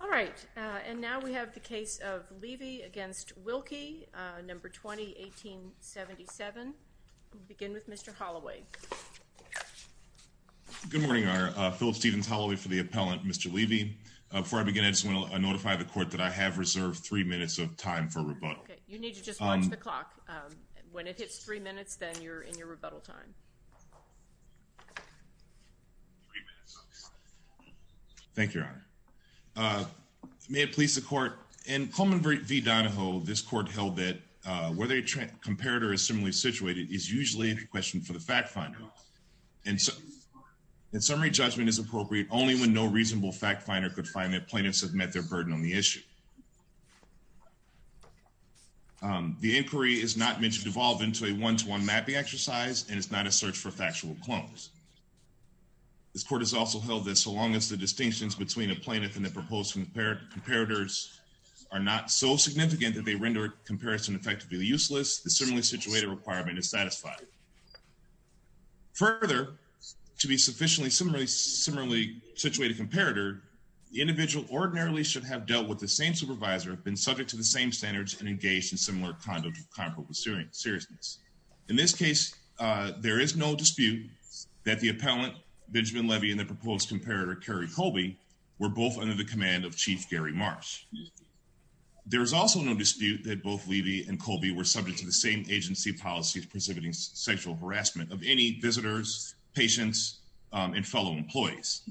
All right, and now we have the case of Levy v. Wilkie, No. 20, 1877. We'll begin with Mr. Holloway. Good morning, Your Honor. Philip Stevens Holloway for the appellant, Mr. Levy. Before I begin, I just want to notify the court that I have reserved three minutes of time for rebuttal. You need to just watch the clock. When it hits three minutes, then you're in your rebuttal time. Three minutes, okay. Thank you, Your Honor. May it please the court, in Coleman v. Donahoe, this court held that whether a comparator is similarly situated is usually a question for the fact finder. In summary, judgment is appropriate only when no reasonable fact finder could find that plaintiffs have met their burden on the issue. The inquiry is not meant to devolve into a one-to-one mapping exercise and is not a search for factual clones. This court has also held that so long as the distinctions between a plaintiff and the proposed comparators are not so significant that they render comparison effectively useless, the similarly situated requirement is satisfied. Further, to be a sufficiently similarly situated comparator, the individual ordinarily should have dealt with the same supervisor, been subject to the same standards, and engaged in similar conduct with comparable seriousness. In this case, there is no dispute that the appellant, Benjamin Levy, and the proposed comparator, Kerry Colby, were both under the command of Chief Gary Marsh. There is also no dispute that both Levy and Colby were subject to the same agency policies preserving sexual harassment of any visitors, patients, and fellow employees.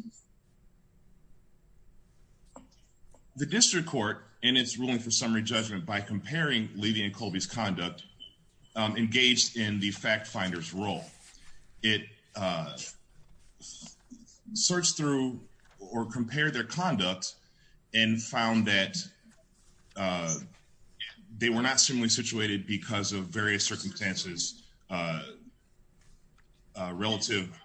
The district court, in its ruling for summary judgment, by comparing Levy and Colby's conduct, engaged in the fact finder's role. It searched through or compared their conduct and found that they were not similarly situated because of various circumstances relative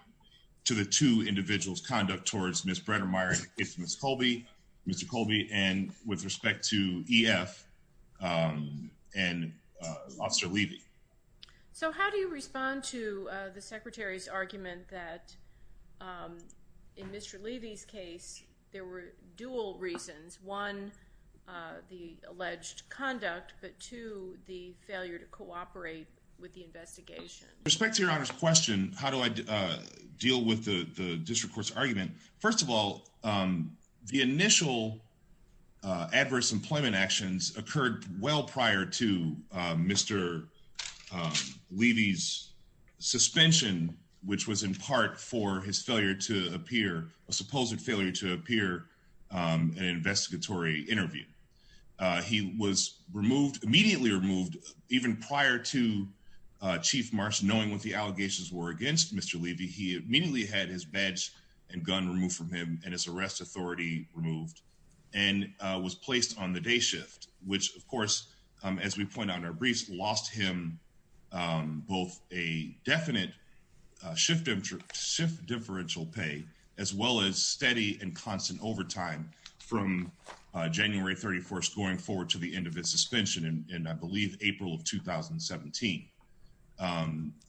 to the two individuals' conduct towards Ms. Bredermeier, Ms. Colby, Mr. Colby, and with respect to EF and Officer Levy. So how do you respond to the Secretary's argument that in Mr. Levy's case, there were dual reasons, one, the alleged conduct, but two, the failure to cooperate with the investigation? With respect to your Honor's question, how do I deal with the district court's argument? First of all, the initial adverse employment actions occurred well prior to Mr. Levy's suspension, which was in part for his failure to appear, a supposed failure to appear in an investigatory interview. He was removed, immediately removed, even prior to Chief Marsh knowing what the allegations were against Mr. Levy, he immediately had his badge and gun removed from him and his arrest authority removed and was placed on the day shift, which, of course, as we point out in our briefs, lost him both a definite shift differential pay, as well as steady and constant overtime from January 15th. To January 31st, going forward to the end of his suspension in, I believe, April of 2017.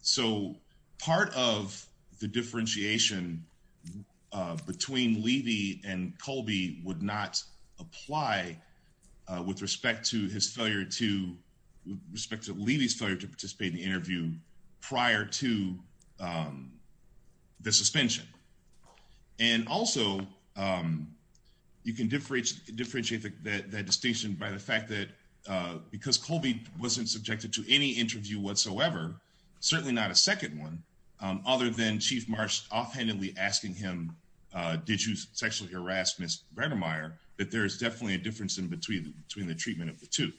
So part of the differentiation between Levy and Colby would not apply with respect to his failure to, with respect to Levy's failure to participate in the interview prior to the suspension. And also, you can differentiate that distinction by the fact that because Colby wasn't subjected to any interview whatsoever, certainly not a second one, other than Chief Marsh offhandedly asking him, did you sexually harass Ms. Redermeier, that there is definitely a difference in between the treatment of the two.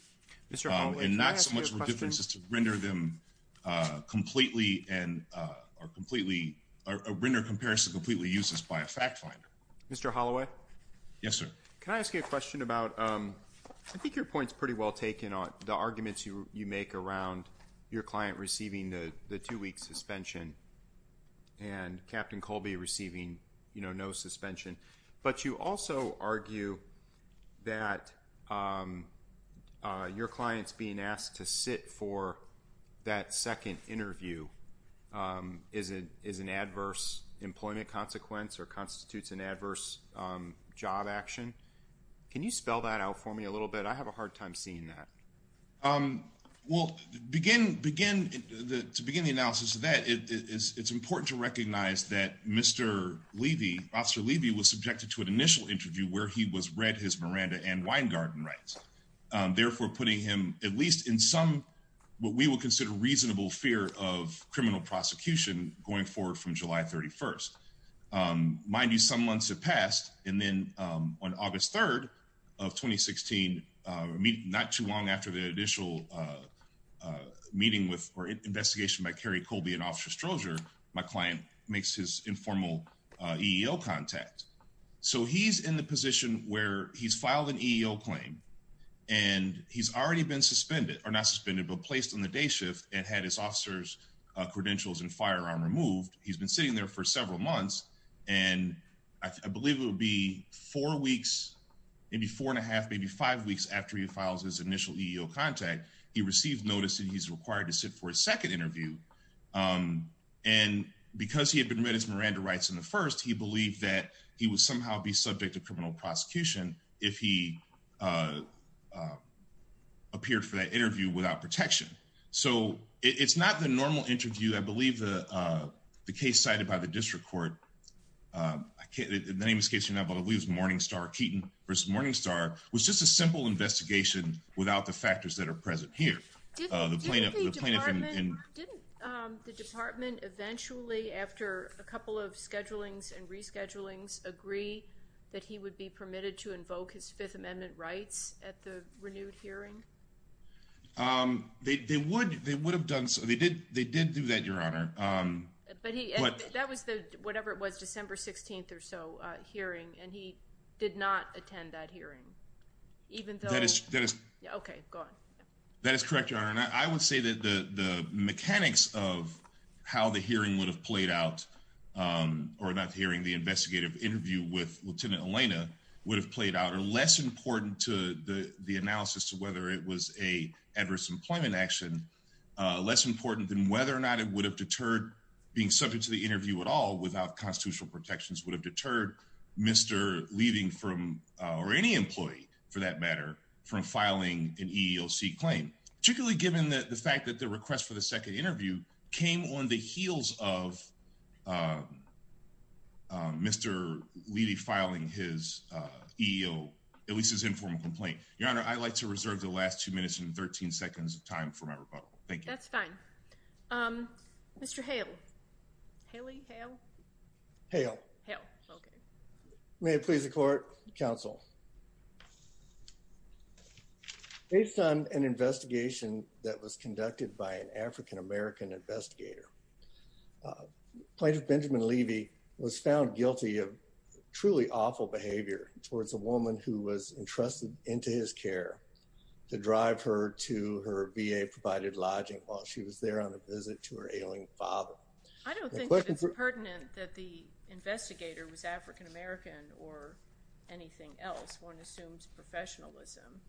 Mr. Holloway, can I ask you a question? And not so much a difference as to render them completely and, or completely, or render a comparison completely useless by a fact finder. Mr. Holloway? Yes, sir. Can I ask you a question about, I think your point's pretty well taken on the arguments you make around your client receiving the two-week suspension and Captain Colby receiving, you know, no suspension. But you also argue that your client's being asked to sit for that second interview is an adverse employment consequence or constitutes an adverse job action. Can you spell that out for me a little bit? I have a hard time seeing that. Well, to begin the analysis of that, it's important to recognize that Mr. Levy, Officer Levy, was subjected to an initial interview where he was read his Miranda and Weingarten rights. Therefore, putting him at least in some what we would consider reasonable fear of criminal prosecution going forward from July 31st. Mind you, some months have passed. And then on August 3rd of 2016, not too long after the initial meeting with, or investigation by Carrie Colby and Officer Strozier, my client makes his informal EEO contact. So he's in the position where he's filed an EEO claim. And he's already been suspended, or not suspended, but placed on the day shift and had his officer's credentials and firearm removed. He's been sitting there for several months. And I believe it would be four weeks, maybe four and a half, maybe five weeks after he files his initial EEO contact, he received notice that he's required to sit for a second interview. And because he had been read his Miranda rights in the first, he believed that he would somehow be subject to criminal prosecution if he appeared for that interview without protection. So it's not the normal interview. I believe the case cited by the district court, I can't, the name of the case is Morningstar, Keaton v. Morningstar, was just a simple investigation without the factors that are present here. Didn't the department eventually, after a couple of schedulings and reschedulings, agree that he would be permitted to invoke his Fifth Amendment rights at the renewed hearing? They would have done so. They did do that, Your Honor. But he, that was the, whatever it was, December 16th or so hearing. And he did not attend that hearing, even though. Okay, go on. That is correct, Your Honor. I would say that the mechanics of how the hearing would have played out or not hearing the investigative interview with Lieutenant Elena would have played out or less important to the analysis to whether it was a adverse employment action, less important than whether or not it would have deterred being subject to the interview at all without constitutional protections would have deterred Mr. Levy from, or any employee for that matter, from filing an EEOC claim, particularly given the fact that the request for the second interview came on the heels of Mr. Levy filing his EEOC, at least his informal complaint. Your Honor, I'd like to reserve the last two minutes and 13 seconds of time for my rebuttal. Thank you. That's fine. Haley? Hale? Hale. Hale. Okay. May it please the court, counsel. Based on an investigation that was conducted by an African-American investigator, plaintiff Benjamin Levy was found guilty of truly awful behavior towards a woman who was entrusted into his care to drive her to her VA-provided lodging while she was there on a visit to her ailing father. I don't think it's pertinent that the investigator was African-American or anything else. One assumes professionalism.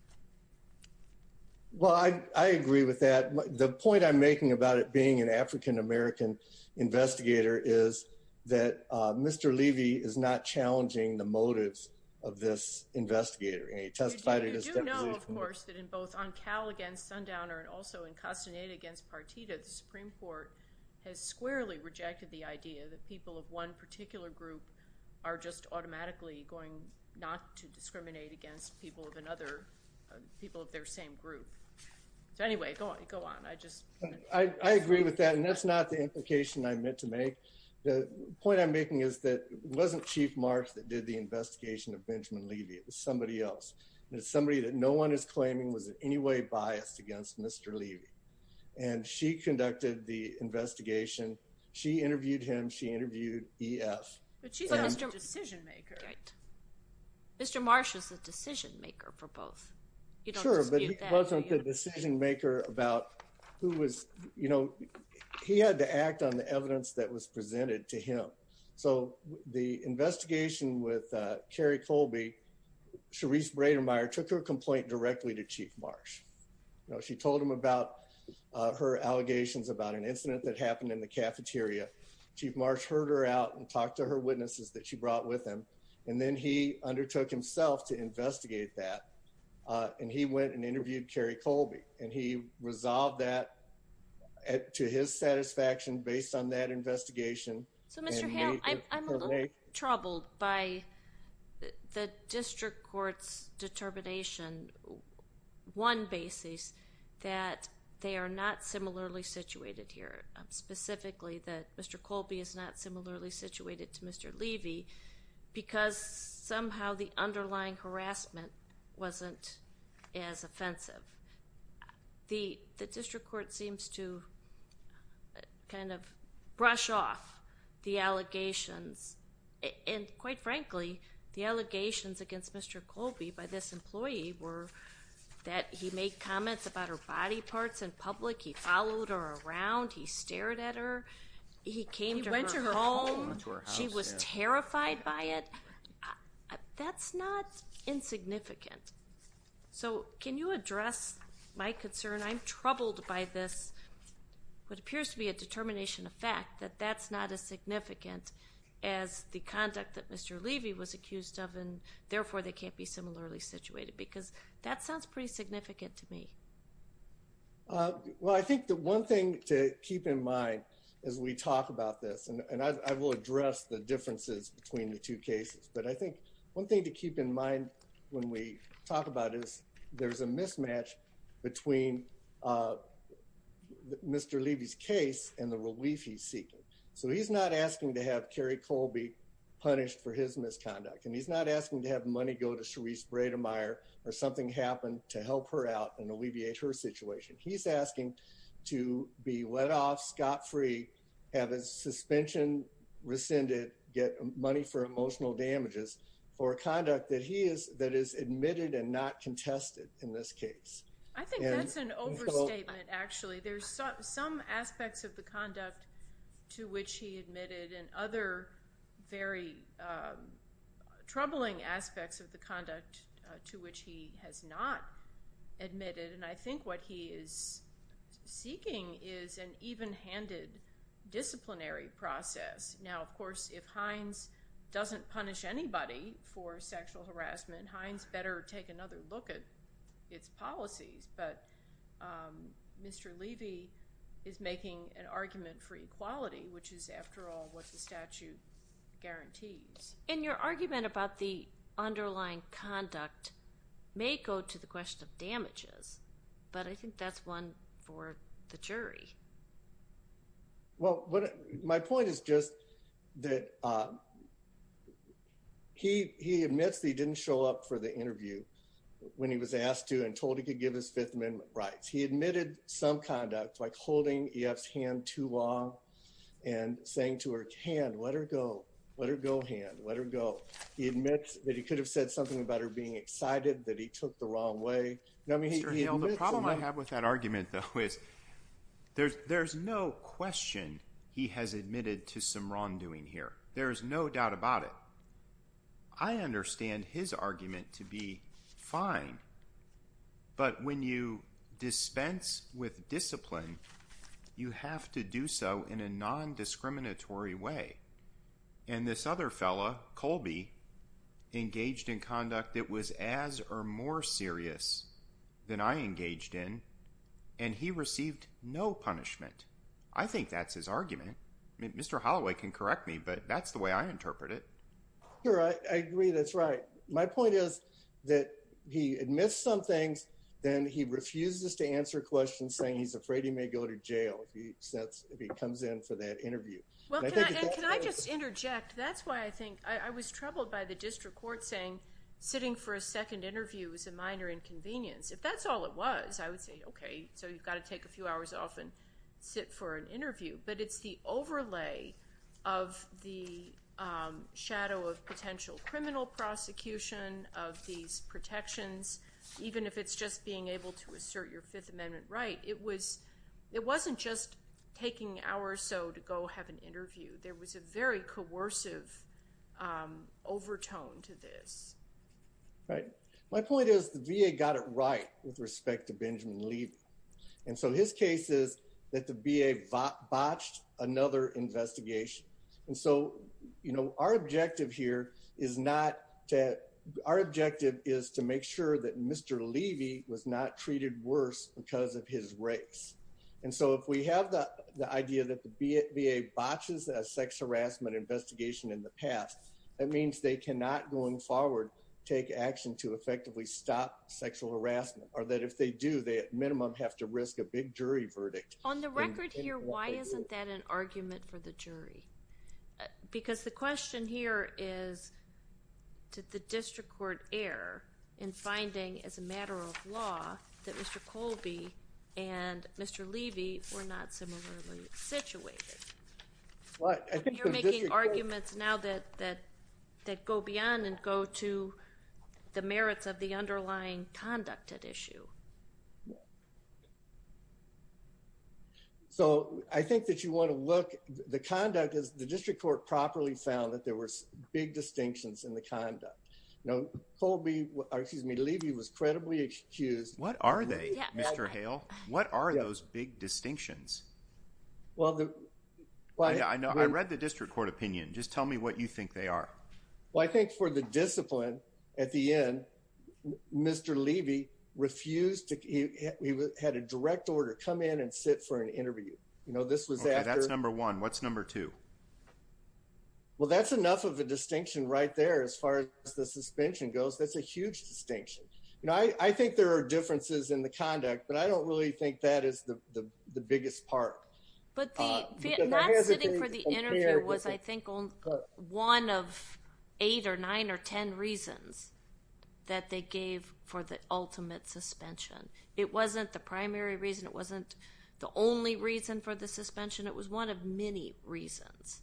Well, I agree with that. The point I'm making about it being an African-American investigator is that Mr. Levy is not challenging the motives of this investigator. You do know, of course, that in both on Cal against Sundowner and also in Castaneda against Partita, the Supreme Court has squarely rejected the idea that people of one particular group are just automatically going not to discriminate against people of another, people of their same group. So, anyway, go on. I agree with that, and that's not the implication I meant to make. The point I'm making is that it wasn't Chief Marsh that did the investigation of Benjamin Levy. It was somebody else, and it's somebody that no one is claiming was in any way biased against Mr. Levy. And she conducted the investigation. She interviewed him. She interviewed EF. But she's not a decision-maker. Right. Mr. Marsh was the decision-maker for both. You don't dispute that. He wasn't the decision-maker about who was, you know, he had to act on the evidence that was presented to him. So the investigation with Carrie Colby, Sharice Bredermeier took her complaint directly to Chief Marsh. You know, she told him about her allegations about an incident that happened in the cafeteria. Chief Marsh heard her out and talked to her witnesses that she brought with him, and then he undertook himself to investigate that. And he went and interviewed Carrie Colby, and he resolved that to his satisfaction based on that investigation. So, Mr. Hale, I'm a little troubled by the district court's determination, one basis, that they are not similarly situated here, specifically that Mr. Colby is not similarly situated to Mr. Levy, because somehow the underlying harassment wasn't as offensive. The district court seems to kind of brush off the allegations. And quite frankly, the allegations against Mr. Colby by this employee were that he made comments about her body parts in public, he followed her around, he stared at her, he came to her home. He went to her home. She was terrified by it. That's not insignificant. So can you address my concern? I'm troubled by this, what appears to be a determination of fact, that that's not as significant as the conduct that Mr. Levy was accused of, and therefore they can't be similarly situated, because that sounds pretty significant to me. Well, I think the one thing to keep in mind as we talk about this, and I will address the differences between the two cases, but I think one thing to keep in mind when we talk about this, there's a mismatch between Mr. Levy's case and the relief he's seeking. So he's not asking to have Kerry Colby punished for his misconduct, and he's not asking to have money go to Sharice Brademeyer or something happen to help her out and alleviate her situation. He's asking to be let off scot-free, have his suspension rescinded, get money for emotional damages, for conduct that is admitted and not contested in this case. I think that's an overstatement, actually. There's some aspects of the conduct to which he admitted and other very troubling aspects of the conduct to which he has not admitted, and I think what he is seeking is an even-handed disciplinary process. Now, of course, if Hines doesn't punish anybody for sexual harassment, Hines better take another look at its policies, but Mr. Levy is making an argument for equality, which is, after all, what the statute guarantees. And your argument about the underlying conduct may go to the question of damages, but I think that's one for the jury. Well, my point is just that he admits that he didn't show up for the interview when he was asked to and told he could give his Fifth Amendment rights. He admitted some conduct, like holding EF's hand too long and saying to her, hand, let her go, let her go, hand, let her go. He admits that he could have said something about her being excited, that he took the wrong way. Mr. Hale, the problem I have with that argument, though, is there's no question he has admitted to some wrongdoing here. There is no doubt about it. I understand his argument to be fine, but when you dispense with discipline, you have to do so in a non-discriminatory way. And this other fellow, Colby, engaged in conduct that was as or more serious than I engaged in, and he received no punishment. I think that's his argument. Mr. Holloway can correct me, but that's the way I interpret it. I agree. That's right. My point is that he admits some things, then he refuses to answer questions, saying he's afraid he may go to jail if he comes in for that interview. Can I just interject? That's why I think I was troubled by the district court saying sitting for a second interview is a minor inconvenience. If that's all it was, I would say, okay, so you've got to take a few hours off and sit for an interview. But it's the overlay of the shadow of potential criminal prosecution of these protections, even if it's just being able to assert your Fifth Amendment right. It wasn't just taking hours or so to go have an interview. There was a very coercive overtone to this. Right. My point is the VA got it right with respect to Benjamin Levy. And so his case is that the VA botched another investigation. And so our objective here is to make sure that Mr. Levy was not treated worse because of his race. And so if we have the idea that the VA botches a sex harassment investigation in the past, that means they cannot, going forward, take action to effectively stop sexual harassment. Or that if they do, they at minimum have to risk a big jury verdict. On the record here, why isn't that an argument for the jury? Because the question here is, did the district court err in finding as a matter of law that Mr. Colby and Mr. Levy were not similarly situated? You're making arguments now that go beyond and go to the merits of the underlying conduct at issue. So I think that you want to look. The conduct is the district court properly found that there were big distinctions in the conduct. Now, Colby, excuse me, Levy was credibly excused. What are they, Mr. Hale? What are those big distinctions? Well, I know I read the district court opinion. Just tell me what you think they are. Well, I think for the discipline at the end, Mr. Levy refused to. He had a direct order come in and sit for an interview. You know, this was that number one. What's number two? Well, that's enough of a distinction right there as far as the suspension goes. That's a huge distinction. I think there are differences in the conduct, but I don't really think that is the biggest part. But sitting for the interview was, I think, one of eight or nine or 10 reasons that they gave for the ultimate suspension. It wasn't the primary reason. It wasn't the only reason for the suspension. It was one of many reasons.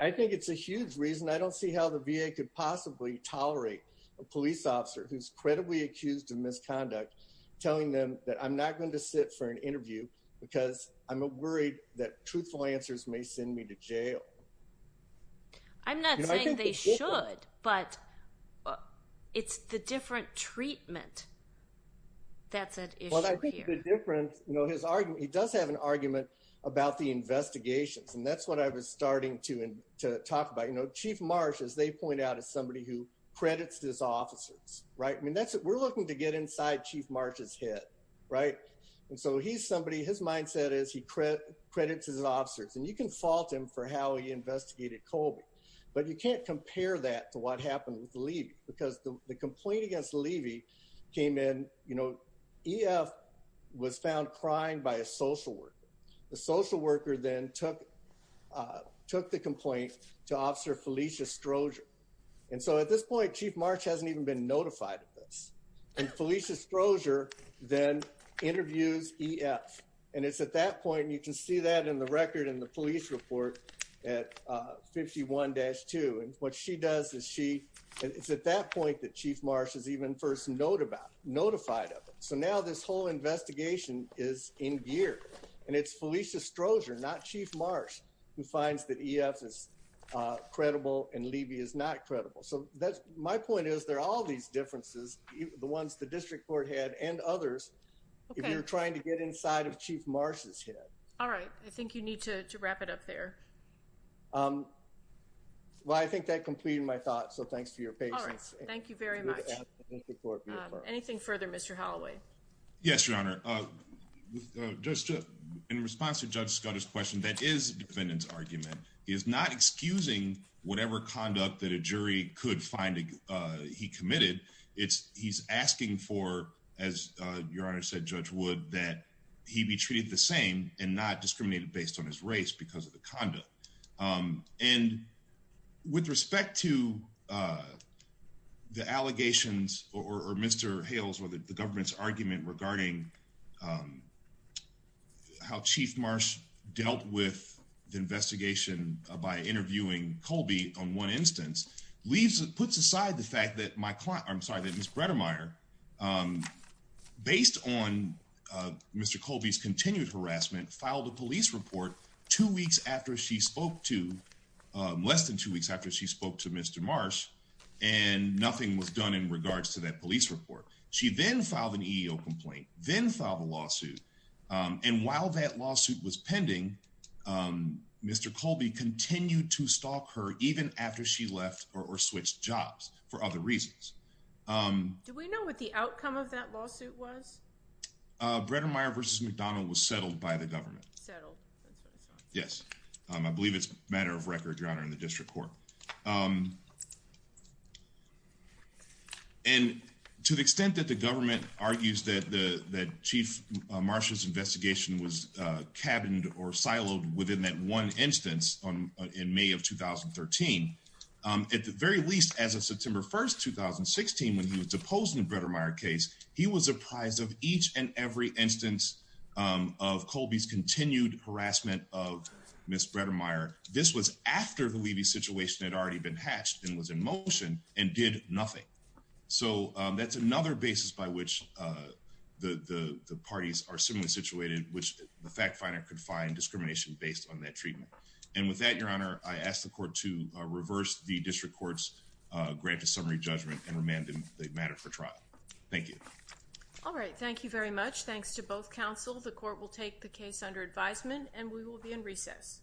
I think it's a huge reason. I don't see how the VA could possibly tolerate a police officer who's credibly accused of misconduct, telling them that I'm not going to sit for an interview because I'm worried that truthful answers may send me to jail. I'm not saying they should, but it's the different treatment that's at issue here. Well, I think the difference, you know, his argument, he does have an argument about the investigations. And that's what I was starting to talk about. You know, Chief Marsh, as they point out, is somebody who credits his officers, right? I mean, we're looking to get inside Chief Marsh's head, right? And so he's somebody, his mindset is he credits his officers. And you can fault him for how he investigated Colby. But you can't compare that to what happened with Levy, because the complaint against Levy came in, you know, EF was found crying by a social worker. The social worker then took the complaint to Officer Felicia Strozier. And so at this point, Chief Marsh hasn't even been notified of this. And Felicia Strozier then interviews EF. And it's at that point, and you can see that in the record in the police report at 51-2. And what she does is she, it's at that point that Chief Marsh is even first notified of it. So now this whole investigation is in gear. And it's Felicia Strozier, not Chief Marsh, who finds that EF is credible and Levy is not credible. So that's my point is there are all these differences, the ones the district court had and others. If you're trying to get inside of Chief Marsh's head. All right. I think you need to wrap it up there. Well, I think that completed my thoughts. So thanks for your patience. Thank you very much. Anything further, Mr. Holloway? Yes, Your Honor. In response to Judge Scudder's question, that is defendant's argument. He is not excusing whatever conduct that a jury could find he committed. It's he's asking for, as Your Honor said, Judge Wood, that he be treated the same and not discriminated based on his race because of the conduct. And with respect to the allegations or Mr. Hales or the government's argument regarding how Chief Marsh dealt with the investigation by interviewing Colby on one instance, puts aside the fact that my client, I'm sorry, that Miss Bredermeier, based on Mr. Colby's continued harassment, filed a police report two weeks after she spoke to less than two weeks after she spoke to Mr. Marsh and nothing was done in regards to that police report. She then filed an EEO complaint, then filed a lawsuit. And while that lawsuit was pending, Mr. Colby continued to stalk her even after she left or switched jobs for other reasons. Do we know what the outcome of that lawsuit was? Bredermeier v. McDonnell was settled by the government. I believe it's a matter of record, Your Honor, in the district court. And to the extent that the government argues that the Chief Marsh's investigation was cabined or siloed within that one instance in May of 2013, at the very least, as of September 1st, 2016, when he was deposed in the Bredermeier case, he was apprised of each and every instance of Colby's continued harassment of Miss Bredermeier. This was after the Levy situation had already been hatched and was in motion and did nothing. So that's another basis by which the parties are similarly situated, which the fact finder could find discrimination based on that treatment. And with that, Your Honor, I ask the court to reverse the district court's grant of summary judgment and remand the matter for trial. Thank you. All right. Thank you very much. Thanks to both counsel. The court will take the case under advisement and we will be in recess.